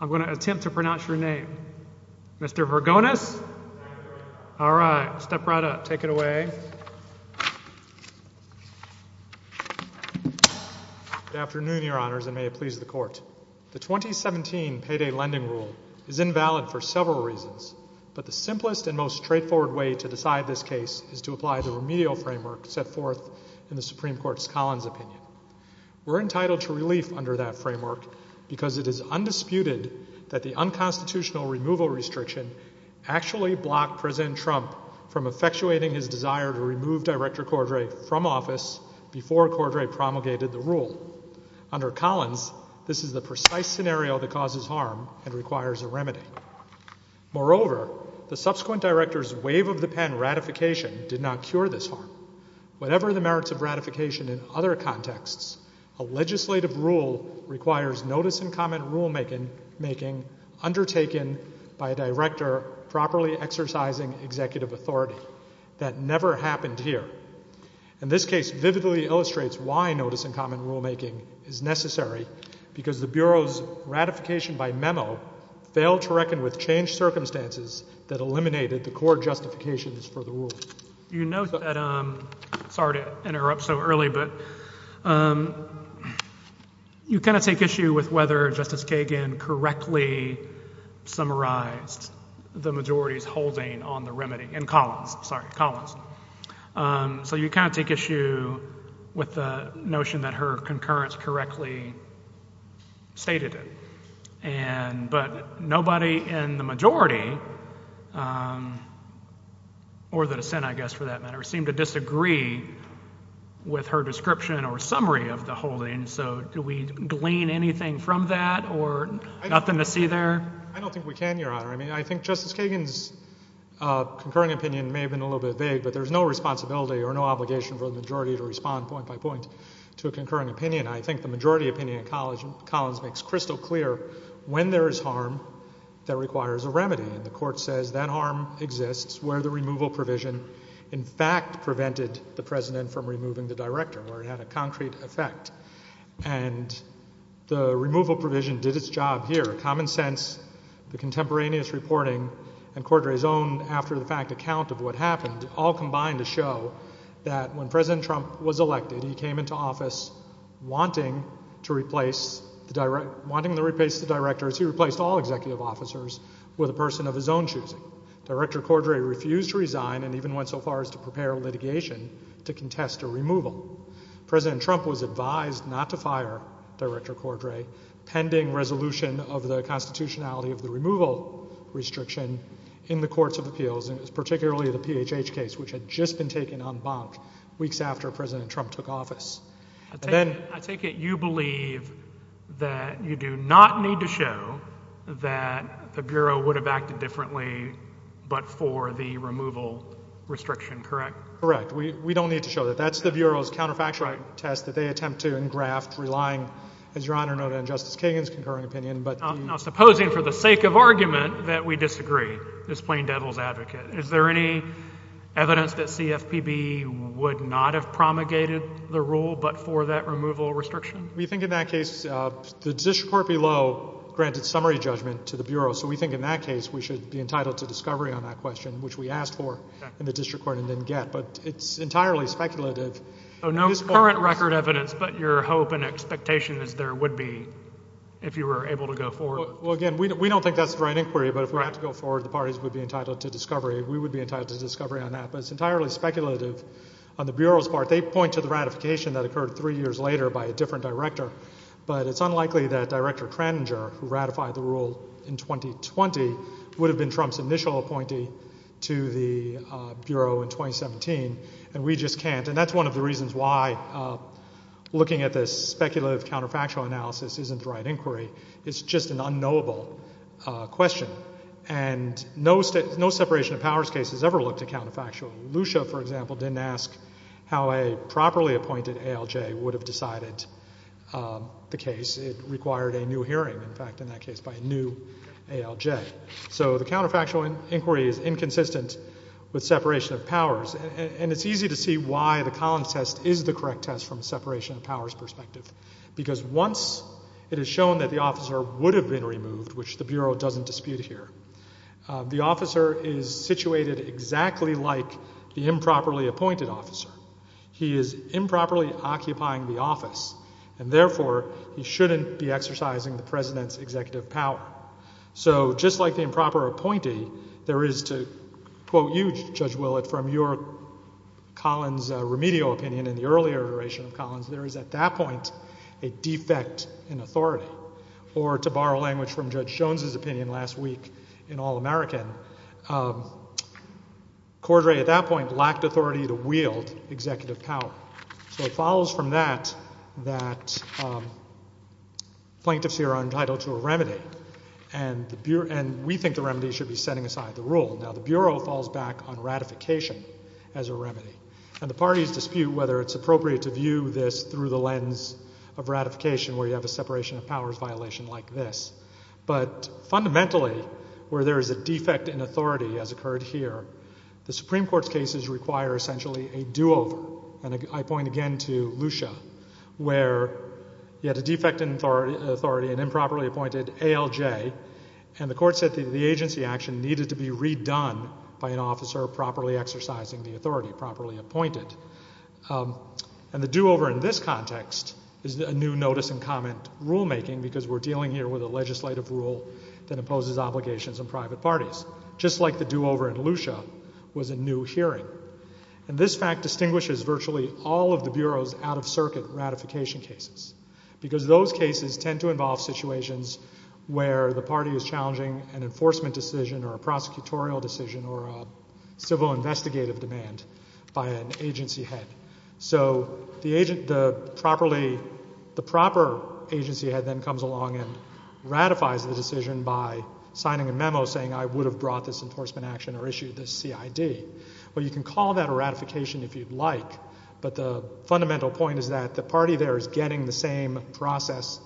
I'm going to attempt to pronounce your name. Mr. Hergonis? All right, step right up. Take it away. Good afternoon, your honors, and may it please the court. The 2017 payday lending rule is invalid for several reasons, but the simplest and most straightforward way to decide this case is to apply the remedial framework set forth in the Supreme Court's Collins opinion. We're entitled to relief under that framework because it is undisputed that the unconstitutional removal restriction actually blocked President Trump from effectuating his desire to remove Director Cordray from office before Cordray promulgated the rule. Under Collins, this is the precise scenario that causes harm and requires a remedy. Moreover, the subsequent director's wave-of-the-pen ratification did not cure this harm. Whatever the merits of ratification in other contexts, a legislative rule requires notice and comment rulemaking undertaken by a director properly exercising executive authority. That never happened here. And this case vividly illustrates why notice and comment rulemaking is necessary because the Bureau's ratification by memo failed to reckon with changed circumstances that eliminated the court justifications for the rule. You know that, sorry to interrupt so early, but you kind of take issue with whether Justice Kagan correctly summarized the majority's holding on the remedy in Collins, sorry, Collins. So you kind of take issue with the notion that her concurrence correctly stated it. And, but nobody in the majority, or the majority, seemed to disagree with her description or summary of the holding. So do we glean anything from that or nothing to see there? I don't think we can, Your Honor. I mean, I think Justice Kagan's concurring opinion may have been a little bit vague, but there's no responsibility or no obligation for the majority to respond point by point to a concurring opinion. I think the majority opinion in Collins makes crystal clear when there is harm that requires a remedy. And the court says that harm exists where the removal provision in fact prevented the president from removing the director, where it had a concrete effect. And the removal provision did its job here. Common Sense, the contemporaneous reporting, and Cordray's own after-the-fact account of what happened all combined to show that when President Trump was elected, he came into office wanting to replace the director, wanting to replace the directors, he replaced all executive officers with a person of his own choosing. Director Cordray refused to resign and even went so far as to prepare litigation to contest a removal. President Trump was advised not to fire Director Cordray pending resolution of the constitutionality of the removal restriction in the courts of appeals, and it was particularly the PHH case, which had just been taken en banc weeks after President Trump took office. I take it you believe that you do not need to show that the Bureau would have acted differently but for the removal restriction, correct? Correct. We don't need to show that. That's the Bureau's counterfactual test that they attempt to engraft, relying, as Your Honor noted, on Justice Kagan's concurring opinion. Now, supposing for the sake of argument that we disagree, this plain devil's advocate, is there any evidence that CFPB would not have promulgated the rule but for that removal restriction? We think in that case, the district court below granted summary judgment to the parties who should be entitled to discovery on that question, which we asked for in the district court and didn't get, but it's entirely speculative. No current record evidence, but your hope and expectation is there would be if you were able to go forward? Well, again, we don't think that's the right inquiry, but if we had to go forward, the parties would be entitled to discovery. We would be entitled to discovery on that, but it's entirely speculative. On the Bureau's part, they point to the ratification that occurred three years later by a different director, but it's unlikely that Director Kraninger, who ratified the rule in 2020, would have been Trump's initial appointee to the Bureau in 2017, and we just can't. And that's one of the reasons why looking at this speculative counterfactual analysis isn't the right inquiry. It's just an unknowable question. And no separation of powers case has ever looked at counterfactual. Lucia, for example, didn't ask how a properly appointed ALJ would have decided the case. It required a new hearing, in fact, in that case by a new ALJ. So the counterfactual inquiry is inconsistent with separation of powers, and it's easy to see why the Collins test is the correct test from a separation of powers perspective, because once it is shown that the officer would have been removed, which the Bureau doesn't dispute here, the officer is situated exactly like the improperly appointed officer. He is improperly occupying the office, and therefore he is exercising the president's executive power. So just like the improper appointee, there is to quote you, Judge Willett, from your Collins remedial opinion in the earlier iteration of Collins, there is at that point a defect in authority. Or to borrow language from Judge Jones's opinion last week in All-American, Cordray at that point lacked authority to wield executive power. So it follows from that that plaintiffs here are entitled to a remedy, and we think the remedy should be setting aside the rule. Now the Bureau falls back on ratification as a remedy, and the parties dispute whether it's appropriate to view this through the lens of ratification where you have a separation of powers violation like this. But fundamentally, where there is a defect in authority as occurred here, the Supreme Court's cases require essentially a do-over. And I point again to Lucia, where you had a defect in authority, an improperly appointed ALJ, and the court said the agency action needed to be redone by an officer properly exercising the authority, properly appointed. And the do-over in this context is a new notice and comment rulemaking, because we're dealing here with a legislative rule that imposes obligations on private parties, just like the do-over in Lucia was a new hearing. And this fact distinguishes virtually all of the Bureau's out-of-circuit ratification cases, because those cases tend to involve situations where the party is challenging an enforcement decision or a prosecutorial decision or a civil investigative demand by an agency head. So the agent, the properly, the proper agency head then comes along and ratifies the decision by signing a memo saying I would have brought this enforcement action or issued this CID. Well, you can call that a ratification if you'd like, but the fundamental point is that the party there is getting the same process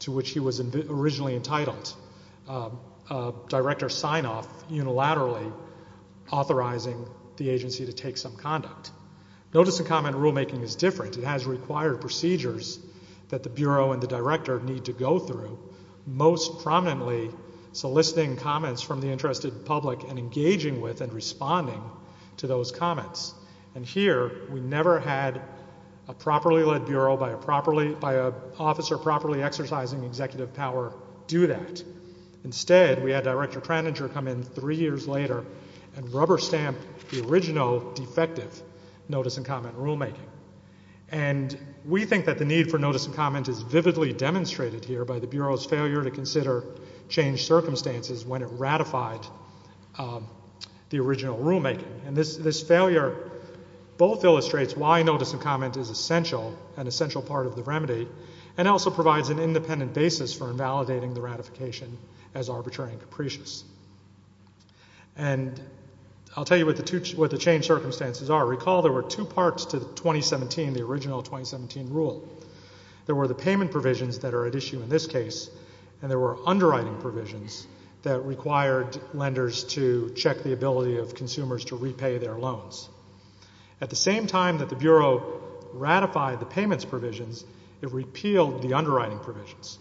to which he was originally entitled, a director sign-off unilaterally authorizing the agency to take some conduct. Notice and comment rulemaking is different. It has required procedures that the Bureau and the director need to go through, most prominently soliciting comments from the interested public and engaging with and responding to those comments. And here, we never had a properly led Bureau by a properly, by an officer properly exercising executive power do that. Instead, we had Director Kraninger come in three years later and rubber stamp the original defective notice and comment rulemaking. And we think that the need for notice and comment is vividly demonstrated here by the Bureau's failure to consider changed circumstances when it ratified the original rulemaking. And this failure both illustrates why notice and comment is essential, an essential part of the remedy, and also provides an independent basis for invalidating the ratification as arbitrary and capricious. And I'll tell you what the changed circumstances are. Recall there were two parts to the 2017, the original 2017 rule. There were the payment provisions that are at issue in this case, and there were underwriting provisions that required lenders to check the ability of consumers to repay their loans. At the same time that the Bureau ratified the payments provisions, it repealed the underwriting provisions.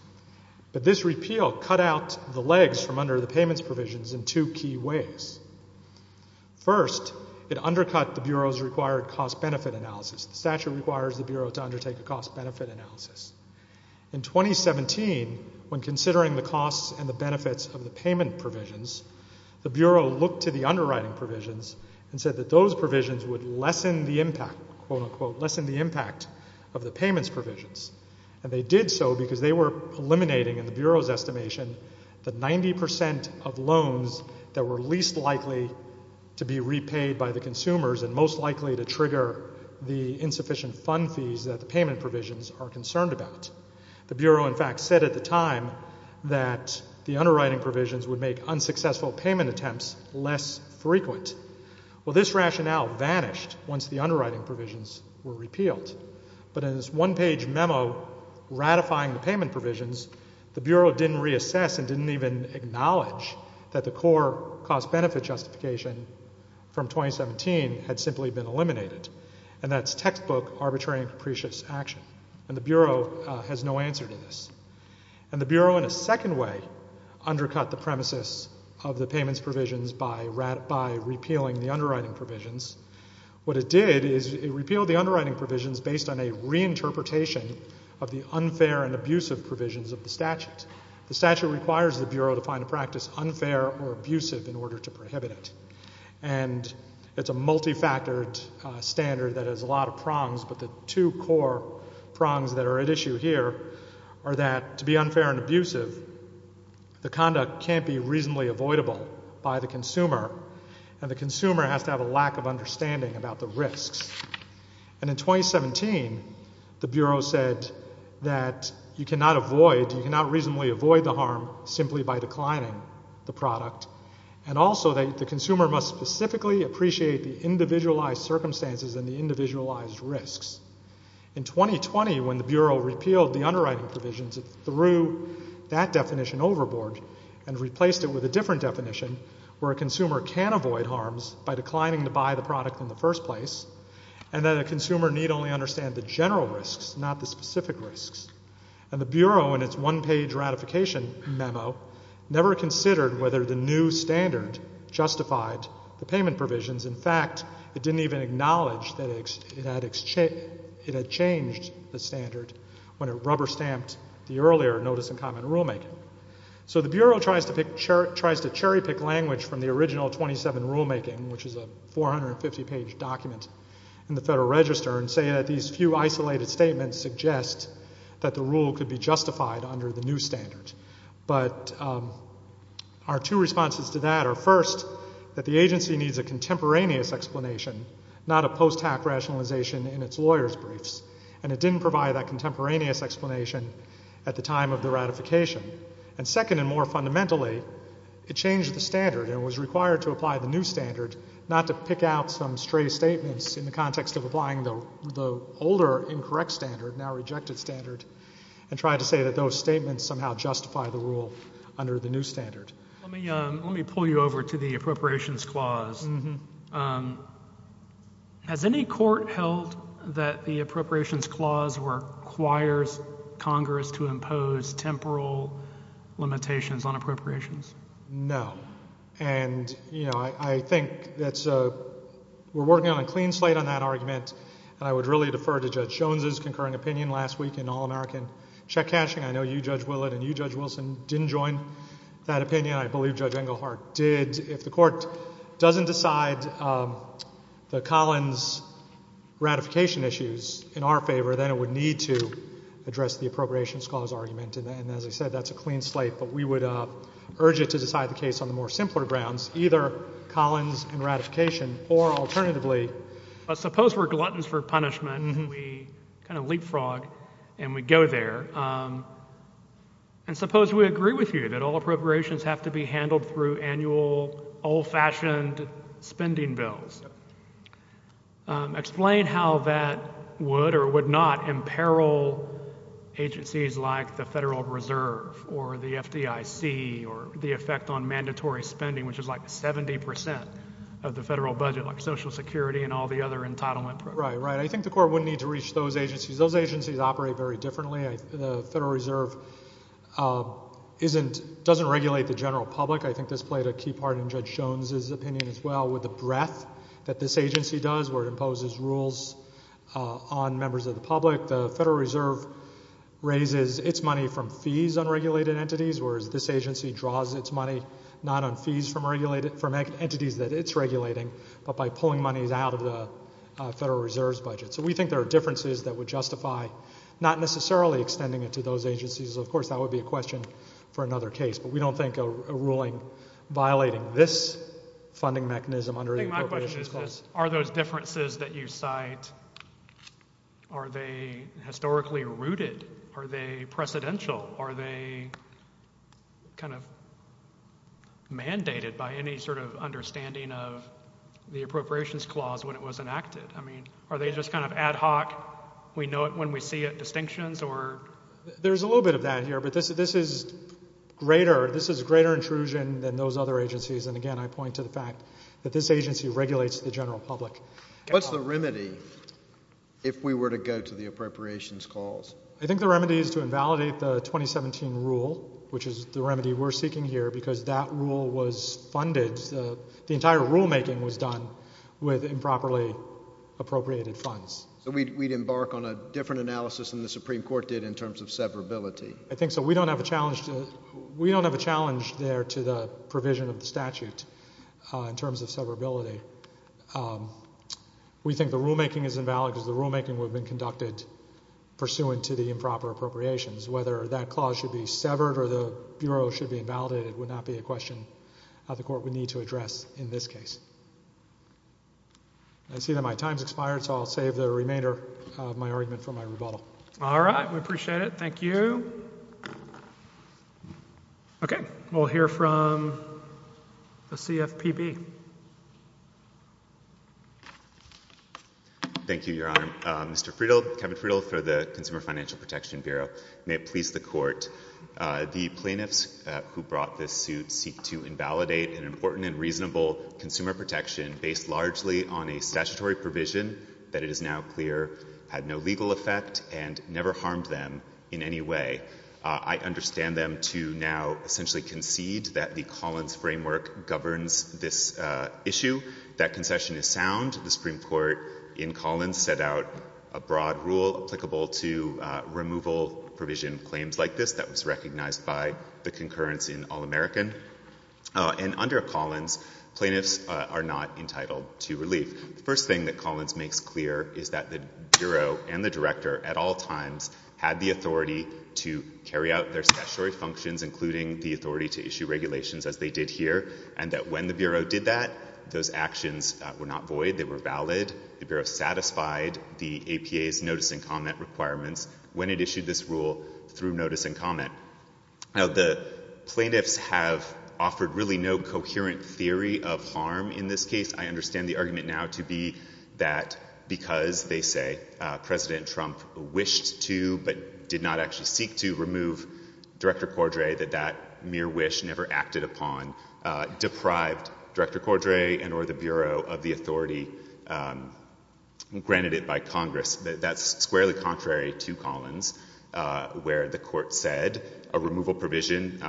But this repeal cut out the legs from under the payments provisions in two key ways. First, it undercut the Bureau's required cost-benefit analysis. The statute requires the Bureau to undertake a cost-benefit analysis. In 2017, when considering the costs and the benefits of the payment provisions, the Bureau looked to the underwriting provisions and said that those provisions would lessen the impact, quote-unquote, lessen the impact of the payments provisions. And they did so because they were eliminating, in the Bureau's estimation, the 90 percent of loans that were least likely to be repaid by the consumers and most likely to trigger the insufficient fund fees that the payment provisions are concerned about. The Bureau, in fact, said at the time that the underwriting provisions would make unsuccessful payment attempts less frequent. Well, this rationale vanished once the underwriting provisions were repealed. But in this one-page memo ratifying the payment provisions, the Bureau didn't reassess and didn't even acknowledge that the core cost-benefit justification from 2017 had simply been eliminated. And that's textbook arbitrary and capricious action. And the Bureau has no answer to this. And the Bureau, in a second way, undercut the premises of the payments provisions by repealing the underwriting provisions. What it did is it repealed the underwriting provisions based on a reinterpretation of the unfair and abusive provisions of the statute. The statute requires the Bureau to find a practice unfair or abusive in order to prohibit it. And it's a multifactored standard that has a lot of prongs, but the two core prongs that are at issue here are that to be unfair and abusive, the conduct can't be reasonably avoidable by the consumer, and the consumer has to have a lack of understanding about the risks. And in 2017, the Bureau said that you cannot avoid, you cannot reasonably avoid the harm simply by declining the product, and also that the consumer must specifically appreciate the individualized circumstances and the underwriting provisions. It threw that definition overboard and replaced it with a different definition where a consumer can avoid harms by declining to buy the product in the first place, and that a consumer need only understand the general risks, not the specific risks. And the Bureau, in its one-page ratification memo, never considered whether the new standard justified the payment provisions. In fact, it didn't even acknowledge that it had changed the standard when it rubber-stamped the earlier notice and comment rulemaking. So the Bureau tries to cherry-pick language from the original 27 rulemaking, which is a 450-page document in the Federal Register, and say that these few isolated statements suggest that the rule could be justified under the new standard. But our two responses to that are, first, that the agency needs a contemporaneous explanation, not a post-hack rationalization in its lawyers' briefs, and it didn't provide that contemporaneous explanation at the time of the ratification. And second and more fundamentally, it changed the standard and was required to apply the new standard, not to pick out some stray statements in the context of applying the older, incorrect standard, now rejected standard, and try to say that those statements somehow justify the rule under the new standard. Let me pull you over to the Appropriations Clause. Has any court held that the Congress to impose temporal limitations on appropriations? No. And, you know, I think that's a—we're working on a clean slate on that argument, and I would really defer to Judge Jones' concurring opinion last week in All-American check cashing. I know you, Judge Willett, and you, Judge Wilson, didn't join that opinion. I believe Judge Englehart did. If the Court doesn't decide the Collins ratification issues in our favor, then it would need to address the Appropriations Clause argument. And as I said, that's a clean slate. But we would urge it to decide the case on the more simpler grounds, either Collins and ratification, or alternatively— Suppose we're gluttons for punishment, and we kind of leapfrog, and we go there. And suppose we agree with you that all appropriations have to be handled through annual, old-fashioned spending bills. Explain how that would or would not imperil agencies like the Federal Reserve, or the FDIC, or the effect on mandatory spending, which is like 70 percent of the federal budget, like Social Security and all the other entitlement programs. Right, right. I think the Court would need to reach those agencies. Those agencies operate very differently. The Federal Reserve isn't—doesn't regulate the general public. I think this played a key part in Judge Jones's opinion, as well, with the breadth that this agency does, where it imposes rules on members of the public. The Federal Reserve raises its money from fees on regulated entities, whereas this agency draws its money not on fees from regulated—from entities that it's regulating, but by pulling monies out of the Federal Reserve's budget. So we think there are differences that would justify not necessarily extending it to those agencies. Of course, that would be a question for another case. But we don't think a ruling violating this funding mechanism under the Appropriations Clause— I think my question is just, are those differences that you cite, are they historically rooted? Are they precedential? Are they kind of mandated by any sort of understanding of the Appropriations Clause when it was enacted? I mean, are they just kind of ad hoc, we know it when we see it, distinctions, or—? There's a little bit of that here, but this is greater—this is greater intrusion than those other agencies, and again, I point to the fact that this agency regulates the general public. What's the remedy if we were to go to the Appropriations Clause? I think the remedy is to invalidate the 2017 rule, which is the remedy we're seeking here, because that rule was funded—the entire rulemaking was done with improperly appropriated funds. So we'd embark on a different analysis than the Supreme Court did in terms of severability? I think so. We don't have a challenge to—we don't have a challenge there to the provision of the statute in terms of severability. We think the rulemaking is invalid because the rulemaking would have been conducted pursuant to the improper appropriations. Whether that clause should be severed or the Bureau should be invalidated would not be a question that the Court would need to address in this case. I see that my time has expired, so I'll save the remainder of my argument for my rebuttal. All right. We appreciate it. Thank you. Okay. We'll hear from the CFPB. Thank you, Your Honor. Mr. Friedel, Kevin Friedel for the Consumer Financial Protection Bureau. May it please the Court, the plaintiffs who brought this suit seek to invalidate an consumer protection based largely on a statutory provision that it is now clear had no legal effect and never harmed them in any way. I understand them to now essentially concede that the Collins framework governs this issue. That concession is sound. The Supreme Court in Collins set out a broad rule applicable to removal provision claims like this that was recognized by the concurrence in All-American. And under Collins, plaintiffs are not entitled to relief. The first thing that Collins makes clear is that the Bureau and the Director at all times had the authority to carry out their statutory functions, including the authority to issue regulations as they did here, and that when the Bureau did that, those actions were not void. They were valid. The Bureau satisfied the APA's notice and comment requirements when it issued this rule through notice and have offered really no coherent theory of harm in this case. I understand the argument now to be that because, they say, President Trump wished to but did not actually seek to remove Director Cordray, that that mere wish never acted upon, deprived Director Cordray and or the Bureau of the authority granted it by Congress. That's squarely contrary to Collins, where the Court said a removal provision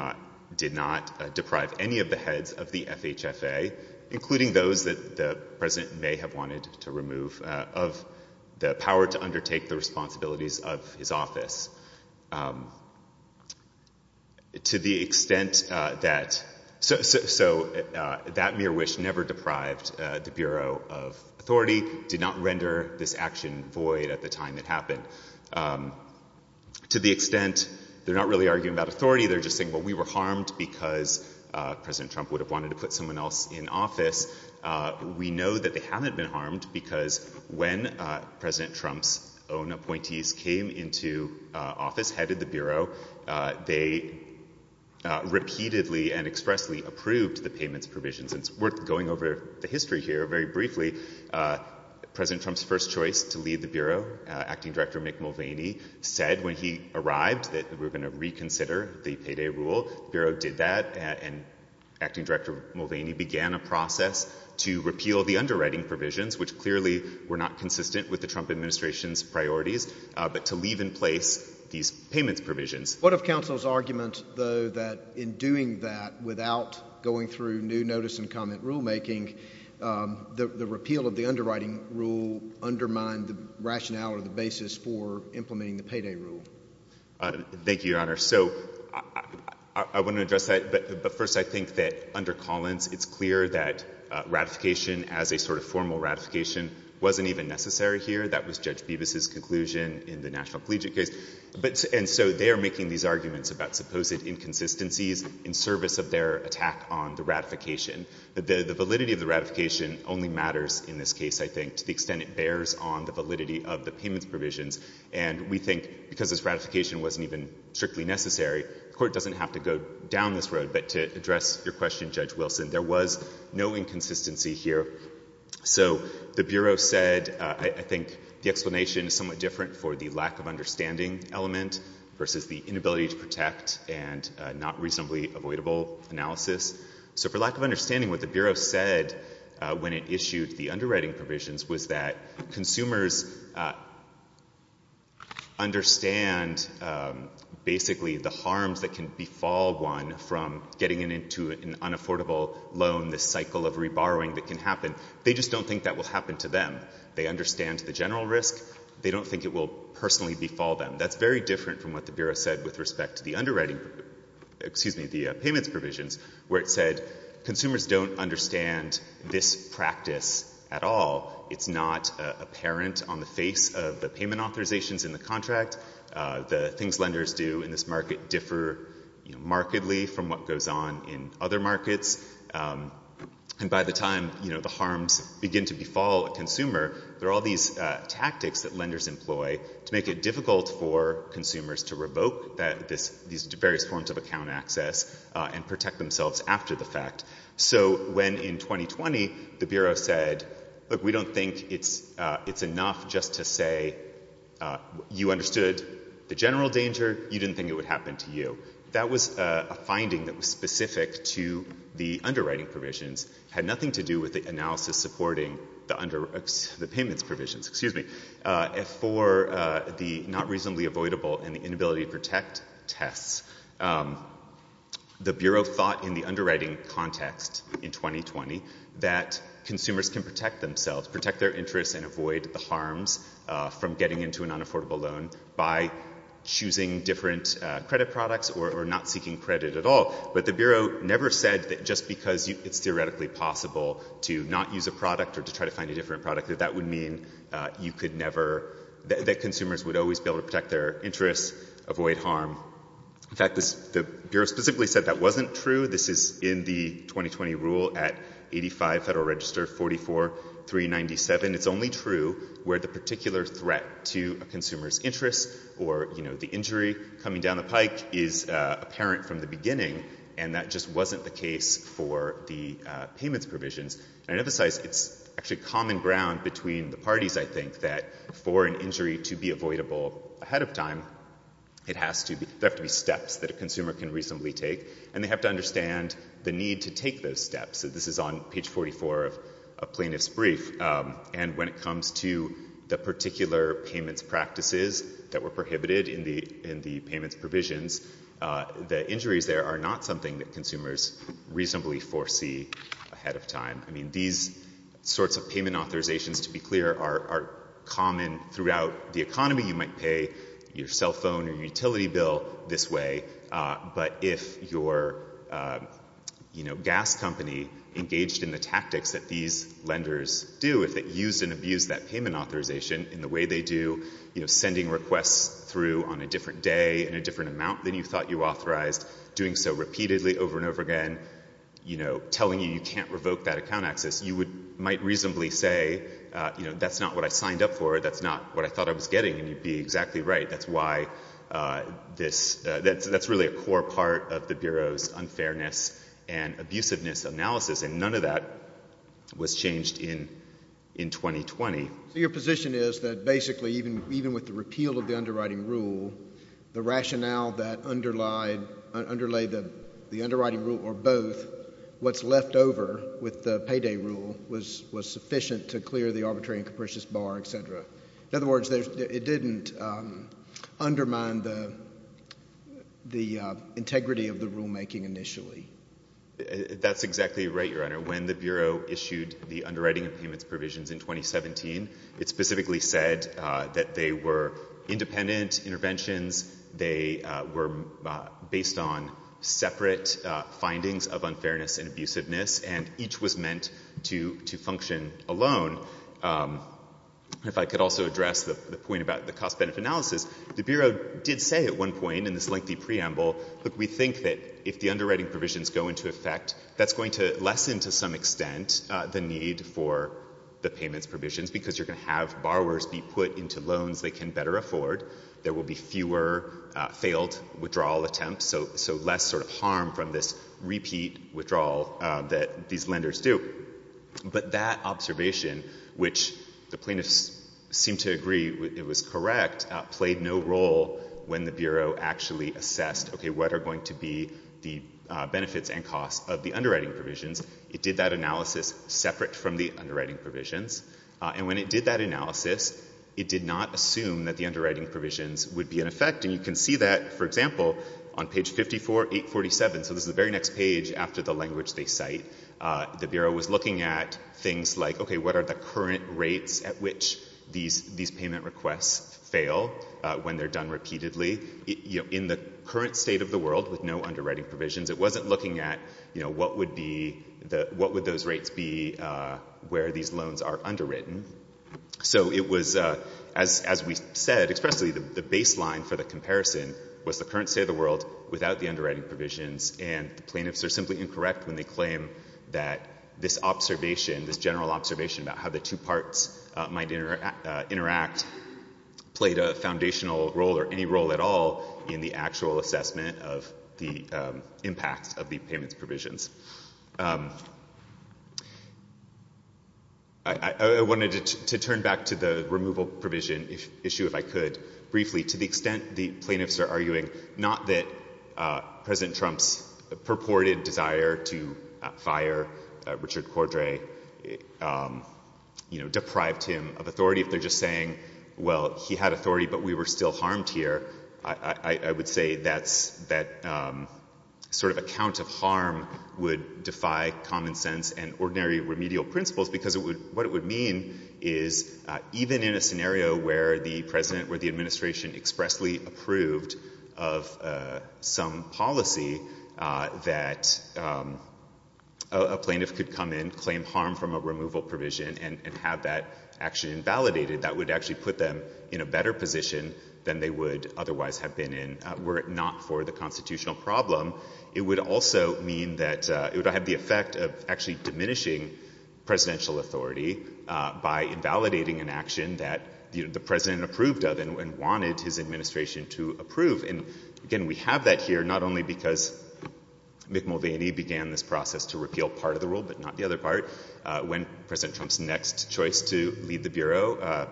did not deprive any of the heads of the FHFA, including those that the President may have wanted to remove, of the power to undertake the responsibilities of his office. To the extent that, so that mere wish never deprived the Bureau of authority did not render this action void at the time it happened. To the extent, they're not really arguing about authority, they're just saying, well, we were harmed because President Trump would have wanted to put someone else in office. We know that they haven't been harmed because when President Trump's own appointees came into office, headed the Bureau, they repeatedly and expressly approved the payments provisions. It's worth going over the history here very briefly. President Trump's first choice to lead the Bureau, Acting Director Mick Mulvaney, said when he arrived that we're going to reconsider the payday rule. The Bureau did that and Acting Director Mulvaney began a process to repeal the underwriting provisions, which clearly were not consistent with the Trump administration's priorities, but to leave in place these payments provisions. What of counsel's argument, though, that in doing that, without going through new notice and comment rulemaking, the repeal of the underwriting rule undermined the rationale or the basis for implementing the payday rule? Thank you, Your Honor. So I want to address that, but first I think that under Collins it's clear that ratification as a sort of formal ratification wasn't even necessary here. That was Judge Bevis' conclusion in the National Collegiate case. And so they are making these arguments about supposed inconsistencies in service of their attack on the ratification. The validity of the ratification only matters in this case, I think, to the extent it bears on the validity of the payments provisions. And we think because this ratification wasn't even strictly necessary, the Court doesn't have to go down this road. But to address your question, Judge Wilson, there was no inconsistency here. So the Bureau said, I think the explanation is somewhat different for the lack of understanding element versus the inability to protect and not reasonably avoidable analysis. So for lack of understanding, what the Bureau said when it issued the underwriting provisions was that consumers understand basically the harms that can befall one from getting into an unaffordable loan, this cycle of reborrowing that can happen. They just don't think that will happen to them. They understand the general risk. They don't think it will personally befall them. That's very different from what the Bureau said with respect to the underwriting — excuse me, the payments provisions, where it said consumers don't understand this practice at all. It's not apparent on the face of the payment authorizations in the contract. The things lenders do in this market differ markedly from what goes on in other markets. And by the time, you know, the harms begin to befall a consumer, there are all these tactics that are difficult for consumers to revoke these various forms of account access and protect themselves after the fact. So when in 2020, the Bureau said, look, we don't think it's enough just to say you understood the general danger. You didn't think it would happen to you. That was a finding that was specific to the underwriting provisions. It had nothing to do with the analysis supporting the payments provisions — excuse me — for the not reasonably avoidable and the inability to protect tests. The Bureau thought in the underwriting context in 2020 that consumers can protect themselves, protect their interests and avoid the harms from getting into an unaffordable loan by choosing different credit products or not It's theoretically possible to not use a product or to try to find a different product. That would mean you could never — that consumers would always be able to protect their interests, avoid harm. In fact, the Bureau specifically said that wasn't true. This is in the 2020 rule at 85 Federal Register 44397. It's only true where the particular threat to a consumer's interest or, you know, the injury coming down the pike is apparent from the beginning, and that just wasn't the case for the payments provisions. And I emphasize it's actually common ground between the parties, I think, that for an injury to be avoidable ahead of time, it has to be — there have to be steps that a consumer can reasonably take, and they have to understand the need to take those steps. So this is on page 44 of a plaintiff's brief. And when it comes to the particular payments practices that were prohibited in the payments provisions, the injuries there are not something that consumers reasonably foresee ahead of time. I mean, these sorts of payment authorizations, to be clear, are common throughout the economy. You might pay your cell phone or your utility bill this way, but if your, you know, gas company engaged in the tactics that these are not something that consumers reasonably foresee ahead of time, you know, you might reasonably say, you know, that's not what I signed up for, that's not what I thought I was getting, and you'd be exactly right. That's why this — that's really a core part of the Bureau's unfairness and abusiveness analysis, and none of that was changed in 2020. So your position is that basically even with the repeal of the underwriting rule, the rationale that underlied — underlay the underwriting rule or both, what's left over with the payday rule was sufficient to clear the arbitrary and capricious bar, et cetera. In other words, it didn't undermine the integrity of the rulemaking initially. That's exactly right, Your Honor. When the Bureau issued the underwriting and payments provisions in 2017, it specifically said that they were independent interventions, they were based on separate findings of unfairness and abusiveness, and each was meant to function alone. If I could also address the point about the cost-benefit analysis, the Bureau did say at one point in this lengthy preamble, look, we think that if the underwriting provisions go into effect, that's going to lessen to some extent the need for the payments provisions, because you're going to have borrowers be put into loans they can better afford, there will be fewer failed withdrawal attempts, so less sort of harm from this repeat withdrawal that these lenders do. But that observation, which the plaintiffs seemed to agree it was correct, played no role when the Bureau actually assessed, okay, what are going to be the benefits and costs of the underwriting provisions. It did that analysis separate from the underwriting provisions, and when it did that analysis, it did not assume that the underwriting provisions would be in effect, and you can see that, for example, on page 54, 847, so this is the very next page after the language they cite, the Bureau was looking at things like, okay, what are the current rates at which these payment requests fail when they're done repeatedly? In the current state of the world with no underwriting provisions, it wasn't looking at, you know, what would be the — what would those rates be where these loans are underwritten. So it was, as we said, expressly the baseline for the comparison was the current state of the world without the underwriting provisions, and the plaintiffs are simply incorrect when they claim that this observation, this general observation about how the two parts might interact played a foundational role or any role at all in the actual assessment of the impact of the payments provisions. I wanted to turn back to the removal provision issue, if I could, briefly, to the extent the plaintiffs are arguing not that President Trump's purported desire to fire Richard Cordray, you know, deprived him of authority, if they're just saying, well, he had authority but we were still harmed here, I would say that sort of account of harm would defy common sense and ordinary remedial principles, because what it would mean is, even in a scenario where the administration expressly approved of some policy that a plaintiff could come in, claim harm from a removal provision, and have that action invalidated, that would actually put them in a better position than they would otherwise have been in were it not for the constitutional problem. It would also mean that — it would have the effect of actually diminishing presidential authority by invalidating an action that the president approved of and wanted his administration to approve. And, again, we have that here not only because Mick Mulvaney began this process to repeal part of the rule but not the other part. When President Trump's next choice to lead the Bureau,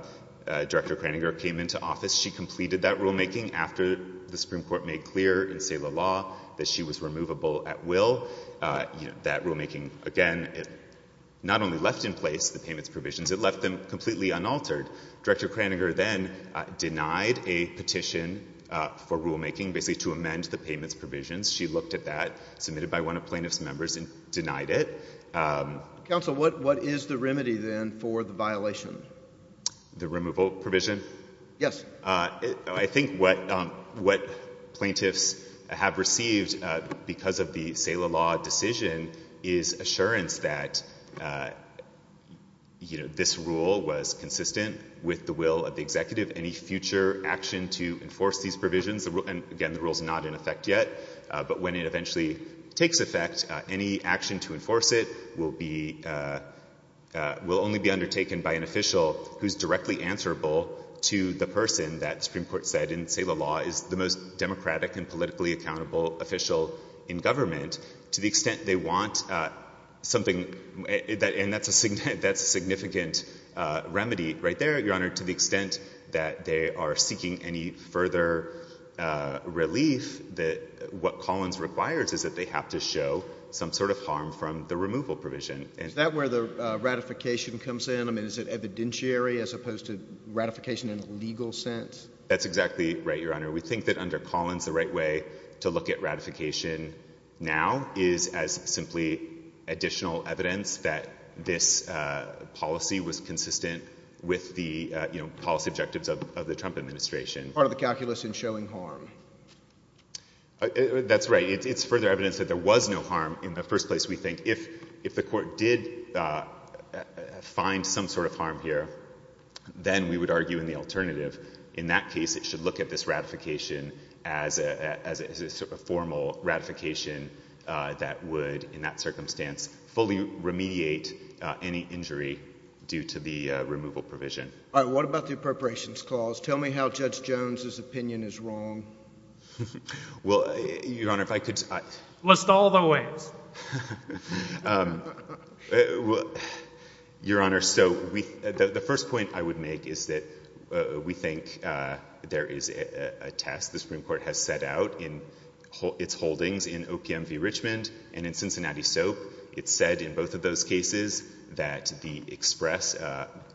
Director Kraninger came into office. She completed that rulemaking after the Supreme Court made clear in SALA law that she was removable at will. That rulemaking, again, not only left in place the payments provisions, it left them completely unaltered. Director Kraninger then denied a petition for rulemaking, basically to amend the payments provisions. She looked at that, submitted by one of plaintiff's members, and denied it. Counsel, what is the remedy, then, for the violation? The removal provision? Yes. I think what — what plaintiffs have received because of the SALA law decision is assurance that, you know, this rule was consistent with the will of the executive. Any future action to enforce these provisions — and, again, the rule's not in effect yet — but when it eventually takes effect, any action to enforce it will be — will only be undertaken by an official who's directly answerable to the person that Supreme Court said in SALA law is the most democratic and politically accountable official in government. To the extent they want something — and that's a significant remedy right there, Your Honor — to the extent that they are seeking any further relief, what Collins requires is that they have to show some sort of harm from the removal provision. Is that where the ratification comes in? I mean, is it evidentiary as opposed to ratification in a legal sense? That's exactly right, Your Honor. We think that under Collins, the right way to look at ratification now is as simply additional evidence that this policy was consistent with the, you know, policy objectives of the Trump administration. Part of the calculus in showing harm. That's right. It's further evidence that there was no harm in the first place, we think. If the court did find some sort of harm here, then we would argue in the alternative. In that case, it should look at this ratification as a — as a sort of formal ratification that would, in that circumstance, fully remediate any injury due to the removal provision. All right. What about the Appropriations Clause? Tell me how Judge Jones's opinion is wrong. Well, Your Honor, if I could — List all the ways. Your Honor, so the first point I would make is that we think there is a test the Supreme Court has set out in its holdings in OPM v. Richmond and in Cincinnati Soap. It said in both of those cases that the express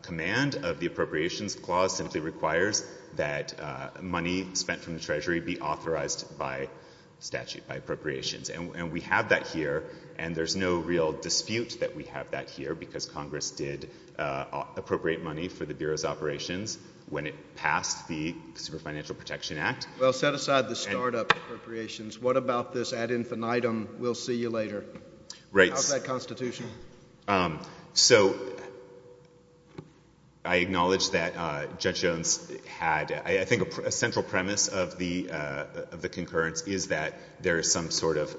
command of the Appropriations Clause simply requires that money spent from the Treasury be authorized by statute, by appropriations. And we have that here, and there's no real dispute that we have that here, because Congress did appropriate money for the Bureau's operations when it passed the Consumer Financial Protection Act. Well, set aside the startup appropriations. What about this ad infinitum, we'll see you later? Right. How's that constitutional? So I acknowledge that Judge Jones had — I think a central premise of the concurrence is that there is some sort of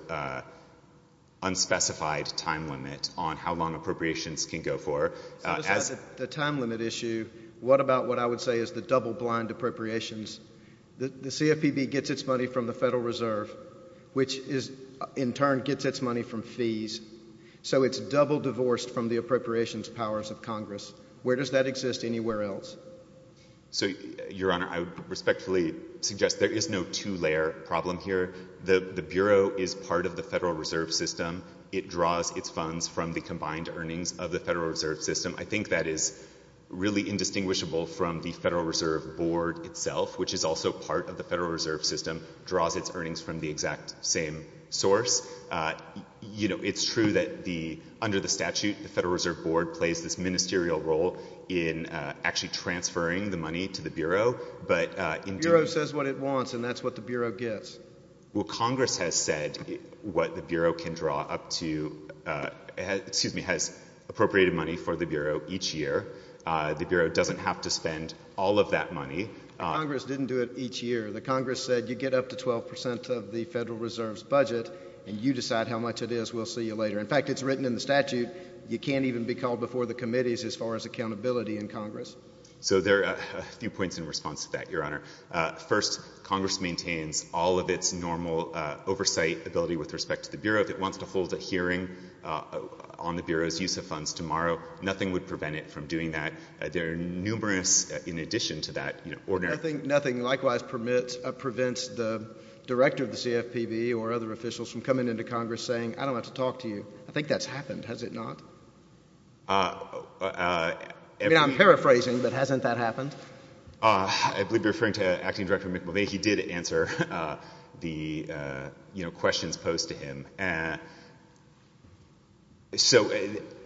unspecified time limit on how long appropriations can go for. So as the time limit issue, what about what I would say is the double-blind appropriations? The CFPB gets its money from the Federal Reserve, which in turn gets its money from fees. So it's double-divorced from the appropriations powers of Congress. Where does that exist anywhere else? So, Your Honor, I would respectfully suggest there is no two-layer problem here. The Bureau is part of the Federal Reserve System. It draws its funds from the combined earnings of the Federal Reserve System. I think that is really indistinguishable from the Federal Reserve Board itself, which is also part of the Federal Reserve System, draws its earnings from the exact same source. You know, it's true that the — under the statute, the Federal Reserve Board plays this role of transferring the money to the Bureau, but — The Bureau says what it wants, and that's what the Bureau gets. Well, Congress has said what the Bureau can draw up to — excuse me, has appropriated money for the Bureau each year. The Bureau doesn't have to spend all of that money. Congress didn't do it each year. The Congress said you get up to 12 percent of the Federal Reserve's budget, and you decide how much it is. We'll see you later. In fact, it's written in the statute, you can't even be called before the committees as far as accountability in Congress. So there are a few points in response to that, Your Honor. First, Congress maintains all of its normal oversight ability with respect to the Bureau. If it wants to hold a hearing on the Bureau's use of funds tomorrow, nothing would prevent it from doing that. There are numerous, in addition to that, you know, ordinary — I think nothing likewise permits — prevents the director of the CFPB or other officials from coming into Congress saying, I don't have to talk to you. I think that's happened, has it not? I mean, I'm paraphrasing, but hasn't that happened? I believe you're referring to Acting Director Mick Mulvaney. He did answer the, you know, questions posed to him. So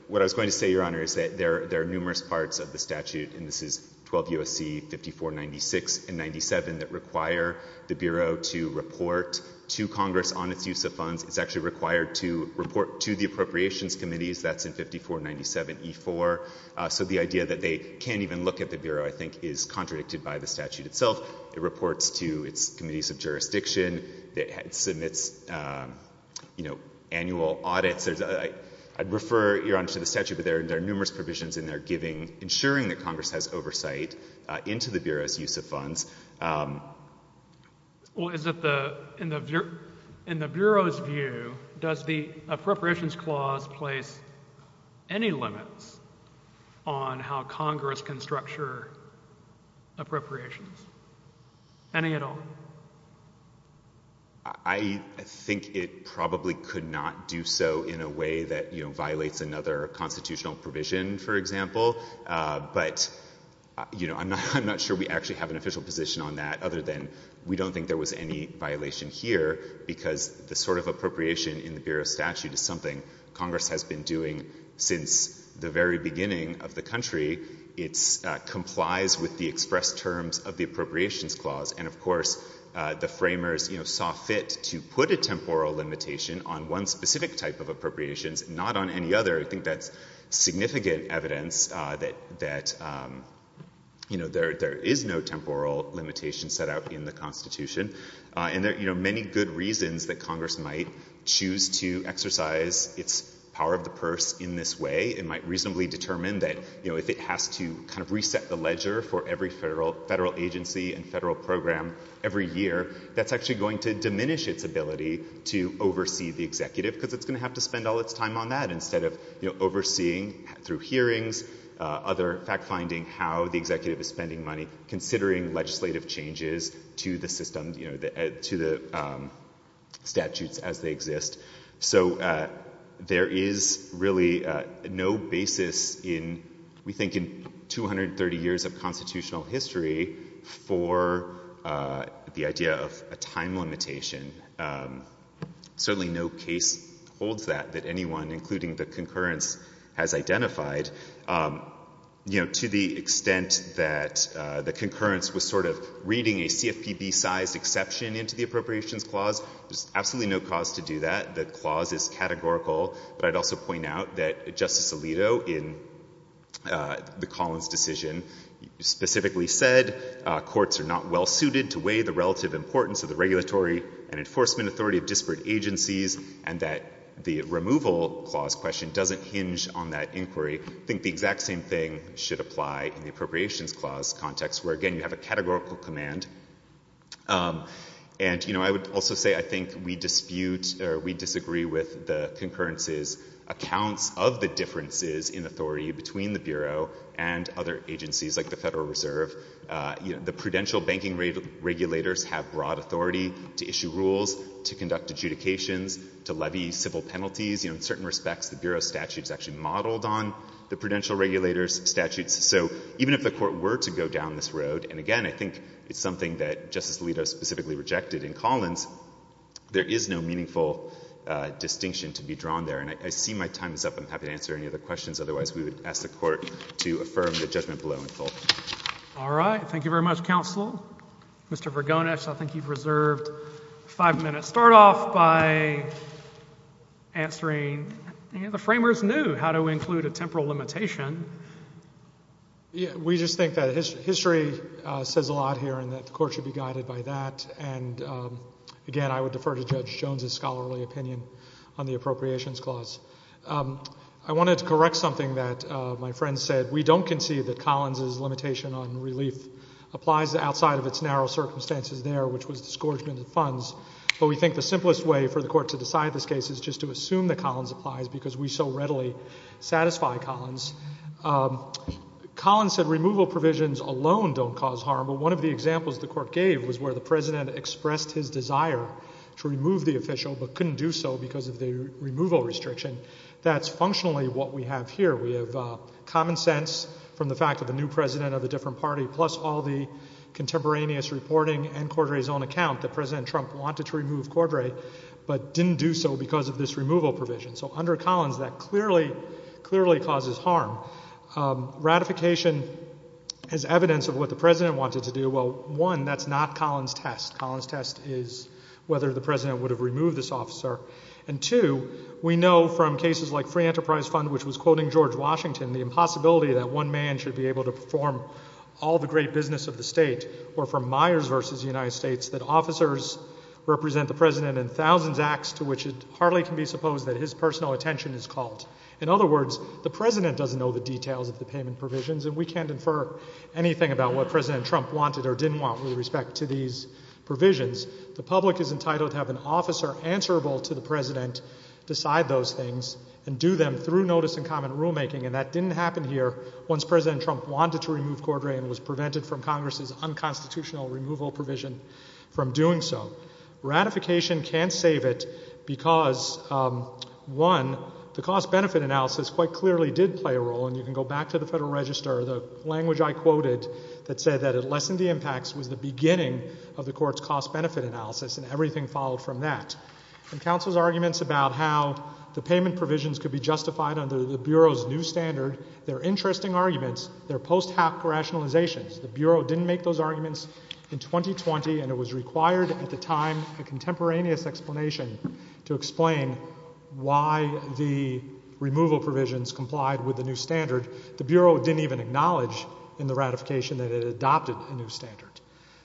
what I was going to say, Your Honor, is that there are numerous parts of the statute, and this is 12 U.S.C. 5496 and 97, that require the Bureau to report to Congress on its use of funds. It's actually required to report to the Appropriations Committees, that's in 5497E4. So the idea that they can't even look at the Bureau, I think, is contradicted by the statute itself. It reports to its committees of jurisdiction, it submits, you know, annual audits. I'd refer, Your Honor, to the statute, but there are numerous provisions in there giving — ensuring that Congress has oversight into the Bureau's use of funds. Well, is it the — in the Bureau's view, does the Appropriations Clause place any limits on how Congress can structure appropriations? Any at all? I think it probably could not do so in a way that, you know, violates another constitutional provision, for example. But, you know, I'm not sure we actually have an official position on that, other than we don't think there was any violation here, because the sort of appropriation in the Bureau's statute is something Congress has been doing since the very beginning of the country. It complies with the express terms of the Appropriations Clause. And of course, the framers, you know, saw fit to put a temporal limitation on one specific type of appropriations, not on any other. I think that's significant evidence that, you know, there is no temporal limitation set out in the Constitution. And there are, you know, many good reasons that Congress might choose to exercise its power of the purse in this way. It might reasonably determine that, you know, if it has to kind of reset the ledger for every federal agency and federal program every year, that's actually going to diminish its ability to oversee the executive, because it's going to have to spend all its time on that instead of, you know, overseeing through hearings, other fact-finding, how the executive is spending money, considering legislative changes to the system, you know, to the statutes as they exist. So there is really no basis in, we think, in 230 years of constitutional history for the idea of a time limitation. Certainly, no case holds that, that anyone, including the concurrence, has identified. You know, to the extent that the concurrence was sort of reading a CFPB-sized exception into the Appropriations Clause, there's absolutely no cause to do that. The clause is categorical, but I'd also point out that Justice Alito, in the Collins decision, specifically said courts are not well-suited to weigh the relative importance of the regulatory and enforcement authority of disparate agencies, and that the removal clause question doesn't hinge on that inquiry. I think the exact same thing should apply in the Appropriations Clause context, where, again, you have a categorical command. And you know, I would also say I think we dispute or we disagree with the concurrence's accounts of the differences in authority between the Bureau and other agencies, like the Federal Reserve. You know, the prudential banking regulators have broad authority to issue rules, to conduct adjudications, to levy civil penalties. You know, in certain respects, the Bureau's statute is actually modeled on the prudential regulators' statutes. So even if the Court were to go down this road, and again, I think it's something that Justice Alito specifically rejected in Collins, there is no meaningful distinction to be drawn there. And I see my time is up. I'm happy to answer any other questions. Otherwise, we would ask the Court to affirm the judgment below in full. All right. Thank you very much, Counsel. Mr. Vergonis, I think you've reserved five minutes. Start off by answering, you know, the framers knew how to include a temporal limitation. We just think that history says a lot here and that the Court should be guided by that. And again, I would defer to Judge Jones's scholarly opinion on the Appropriations Clause. I wanted to correct something that my friend said. We don't concede that Collins's limitation on relief applies outside of its narrow circumstances there, which was disgorgement of funds. But we think the simplest way for the Court to decide this case is just to assume that Collins applies, because we so readily satisfy Collins. Collins said removal provisions alone don't cause harm, but one of the examples the Court gave was where the President expressed his desire to remove the official but couldn't do so because of the removal restriction. That's functionally what we have here. We have common sense from the fact that the new President of a different party, plus all the contemporaneous reporting and Cordray's own account, that President Trump wanted to remove Cordray but didn't do so because of this removal provision. So under Collins, that clearly, clearly causes harm. Ratification is evidence of what the President wanted to do. Well, one, that's not Collins's test. Collins's test is whether the President would have removed this officer. And two, we know from cases like Free Enterprise Fund, which was quoting George Washington, the impossibility that one man should be able to perform all the great business of the state, or from Myers v. United States, that officers represent the President in thousands acts to which it hardly can be supposed that his personal attention is called. In other words, the President doesn't know the details of the payment provisions, and we can't infer anything about what President Trump wanted or didn't want with respect to these provisions. The public is entitled to have an officer answerable to the President, decide those things, and do them through notice and comment rulemaking. And that didn't happen here once President Trump wanted to remove Cordray and was prevented from Congress's unconstitutional removal provision from doing so. Ratification can't save it because, one, the cost-benefit analysis quite clearly did play a role. And you can go back to the Federal Register, the language I quoted that said that it lessened the impacts was the beginning of the Court's cost-benefit analysis, and everything followed from that. And counsel's arguments about how the payment provisions could be justified under the Bureau's new standard, they're interesting arguments. They're post-hack rationalizations. The Bureau didn't make those arguments in 2020, and it was required at the time a contemporaneous explanation to explain why the removal provisions complied with the new standard. The Bureau didn't even acknowledge in the ratification that it adopted a new standard.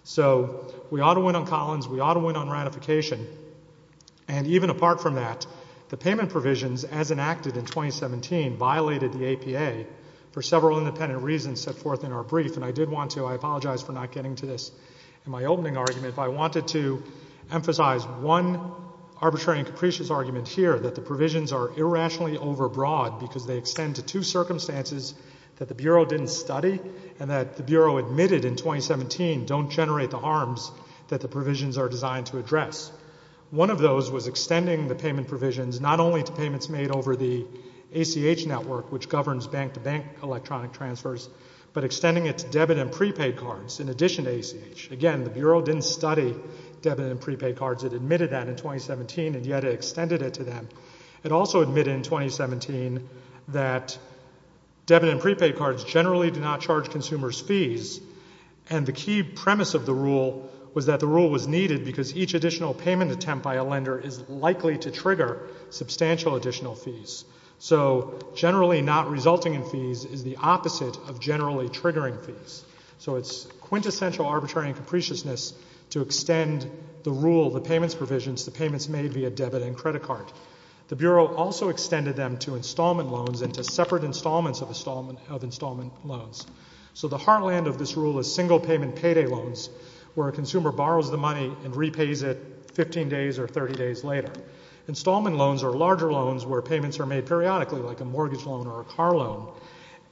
So we ought to win on Collins. We ought to win on ratification. And even apart from that, the payment provisions, as enacted in 2017, violated the APA for several independent reasons set forth in our brief. And I did want to, I apologize for not getting to this in my opening argument, but I wanted to emphasize one arbitrary and capricious argument here, that the provisions are irrationally overbroad because they extend to two circumstances that the Bureau didn't study and that the Bureau admitted in 2017 don't generate the harms that the provisions are designed to address. One of those was extending the payment provisions not only to payments made over the ACH network, which governs bank-to-bank electronic transfers, but extending it to debit and prepaid cards in addition to ACH. Again, the Bureau didn't study debit and prepaid cards. It admitted that in 2017, and yet it extended it to them. It also admitted in 2017 that debit and prepaid cards generally do not charge consumers fees. And the key premise of the rule was that the rule was needed because each additional payment attempt by a lender is likely to trigger substantial additional fees. So generally not resulting in fees is the opposite of generally triggering fees. So it's quintessential arbitrary and capriciousness to extend the rule, the payments provisions, to payments made via debit and credit card. The Bureau also extended them to installment loans and to separate installments of installment loans. So the heartland of this rule is single-payment payday loans, where a consumer borrows the money and repays it 15 days or 30 days later. Installment loans are larger loans where payments are made periodically, like a mortgage loan or a car loan,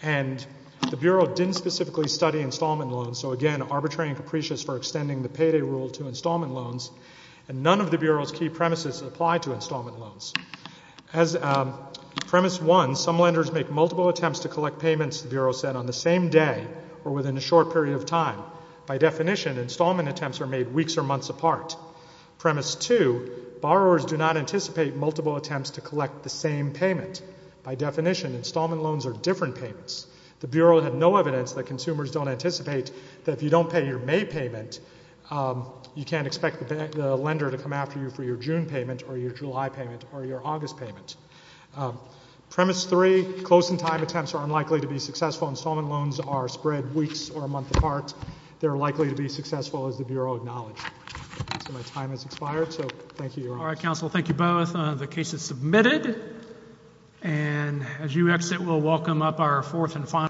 and the Bureau didn't specifically study installment loans. So again, arbitrary and capricious for extending the payday rule to installment loans. And none of the Bureau's key premises apply to installment loans. As premise one, some lenders make multiple attempts to collect payments, the Bureau said, on the same day or within a short period of time. By definition, installment attempts are made weeks or months apart. Premise two, borrowers do not anticipate multiple attempts to collect the same payment. By definition, installment loans are different payments. The Bureau had no evidence that consumers don't anticipate that if you don't pay your lender to come after you for your June payment or your July payment or your August payment. Premise three, close-in-time attempts are unlikely to be successful. Installment loans are spread weeks or a month apart. They're likely to be successful, as the Bureau acknowledged. So my time has expired, so thank you, Your Honor. All right, counsel. Thank you both. The case is submitted. And as you exit, we'll welcome up our fourth and final witness.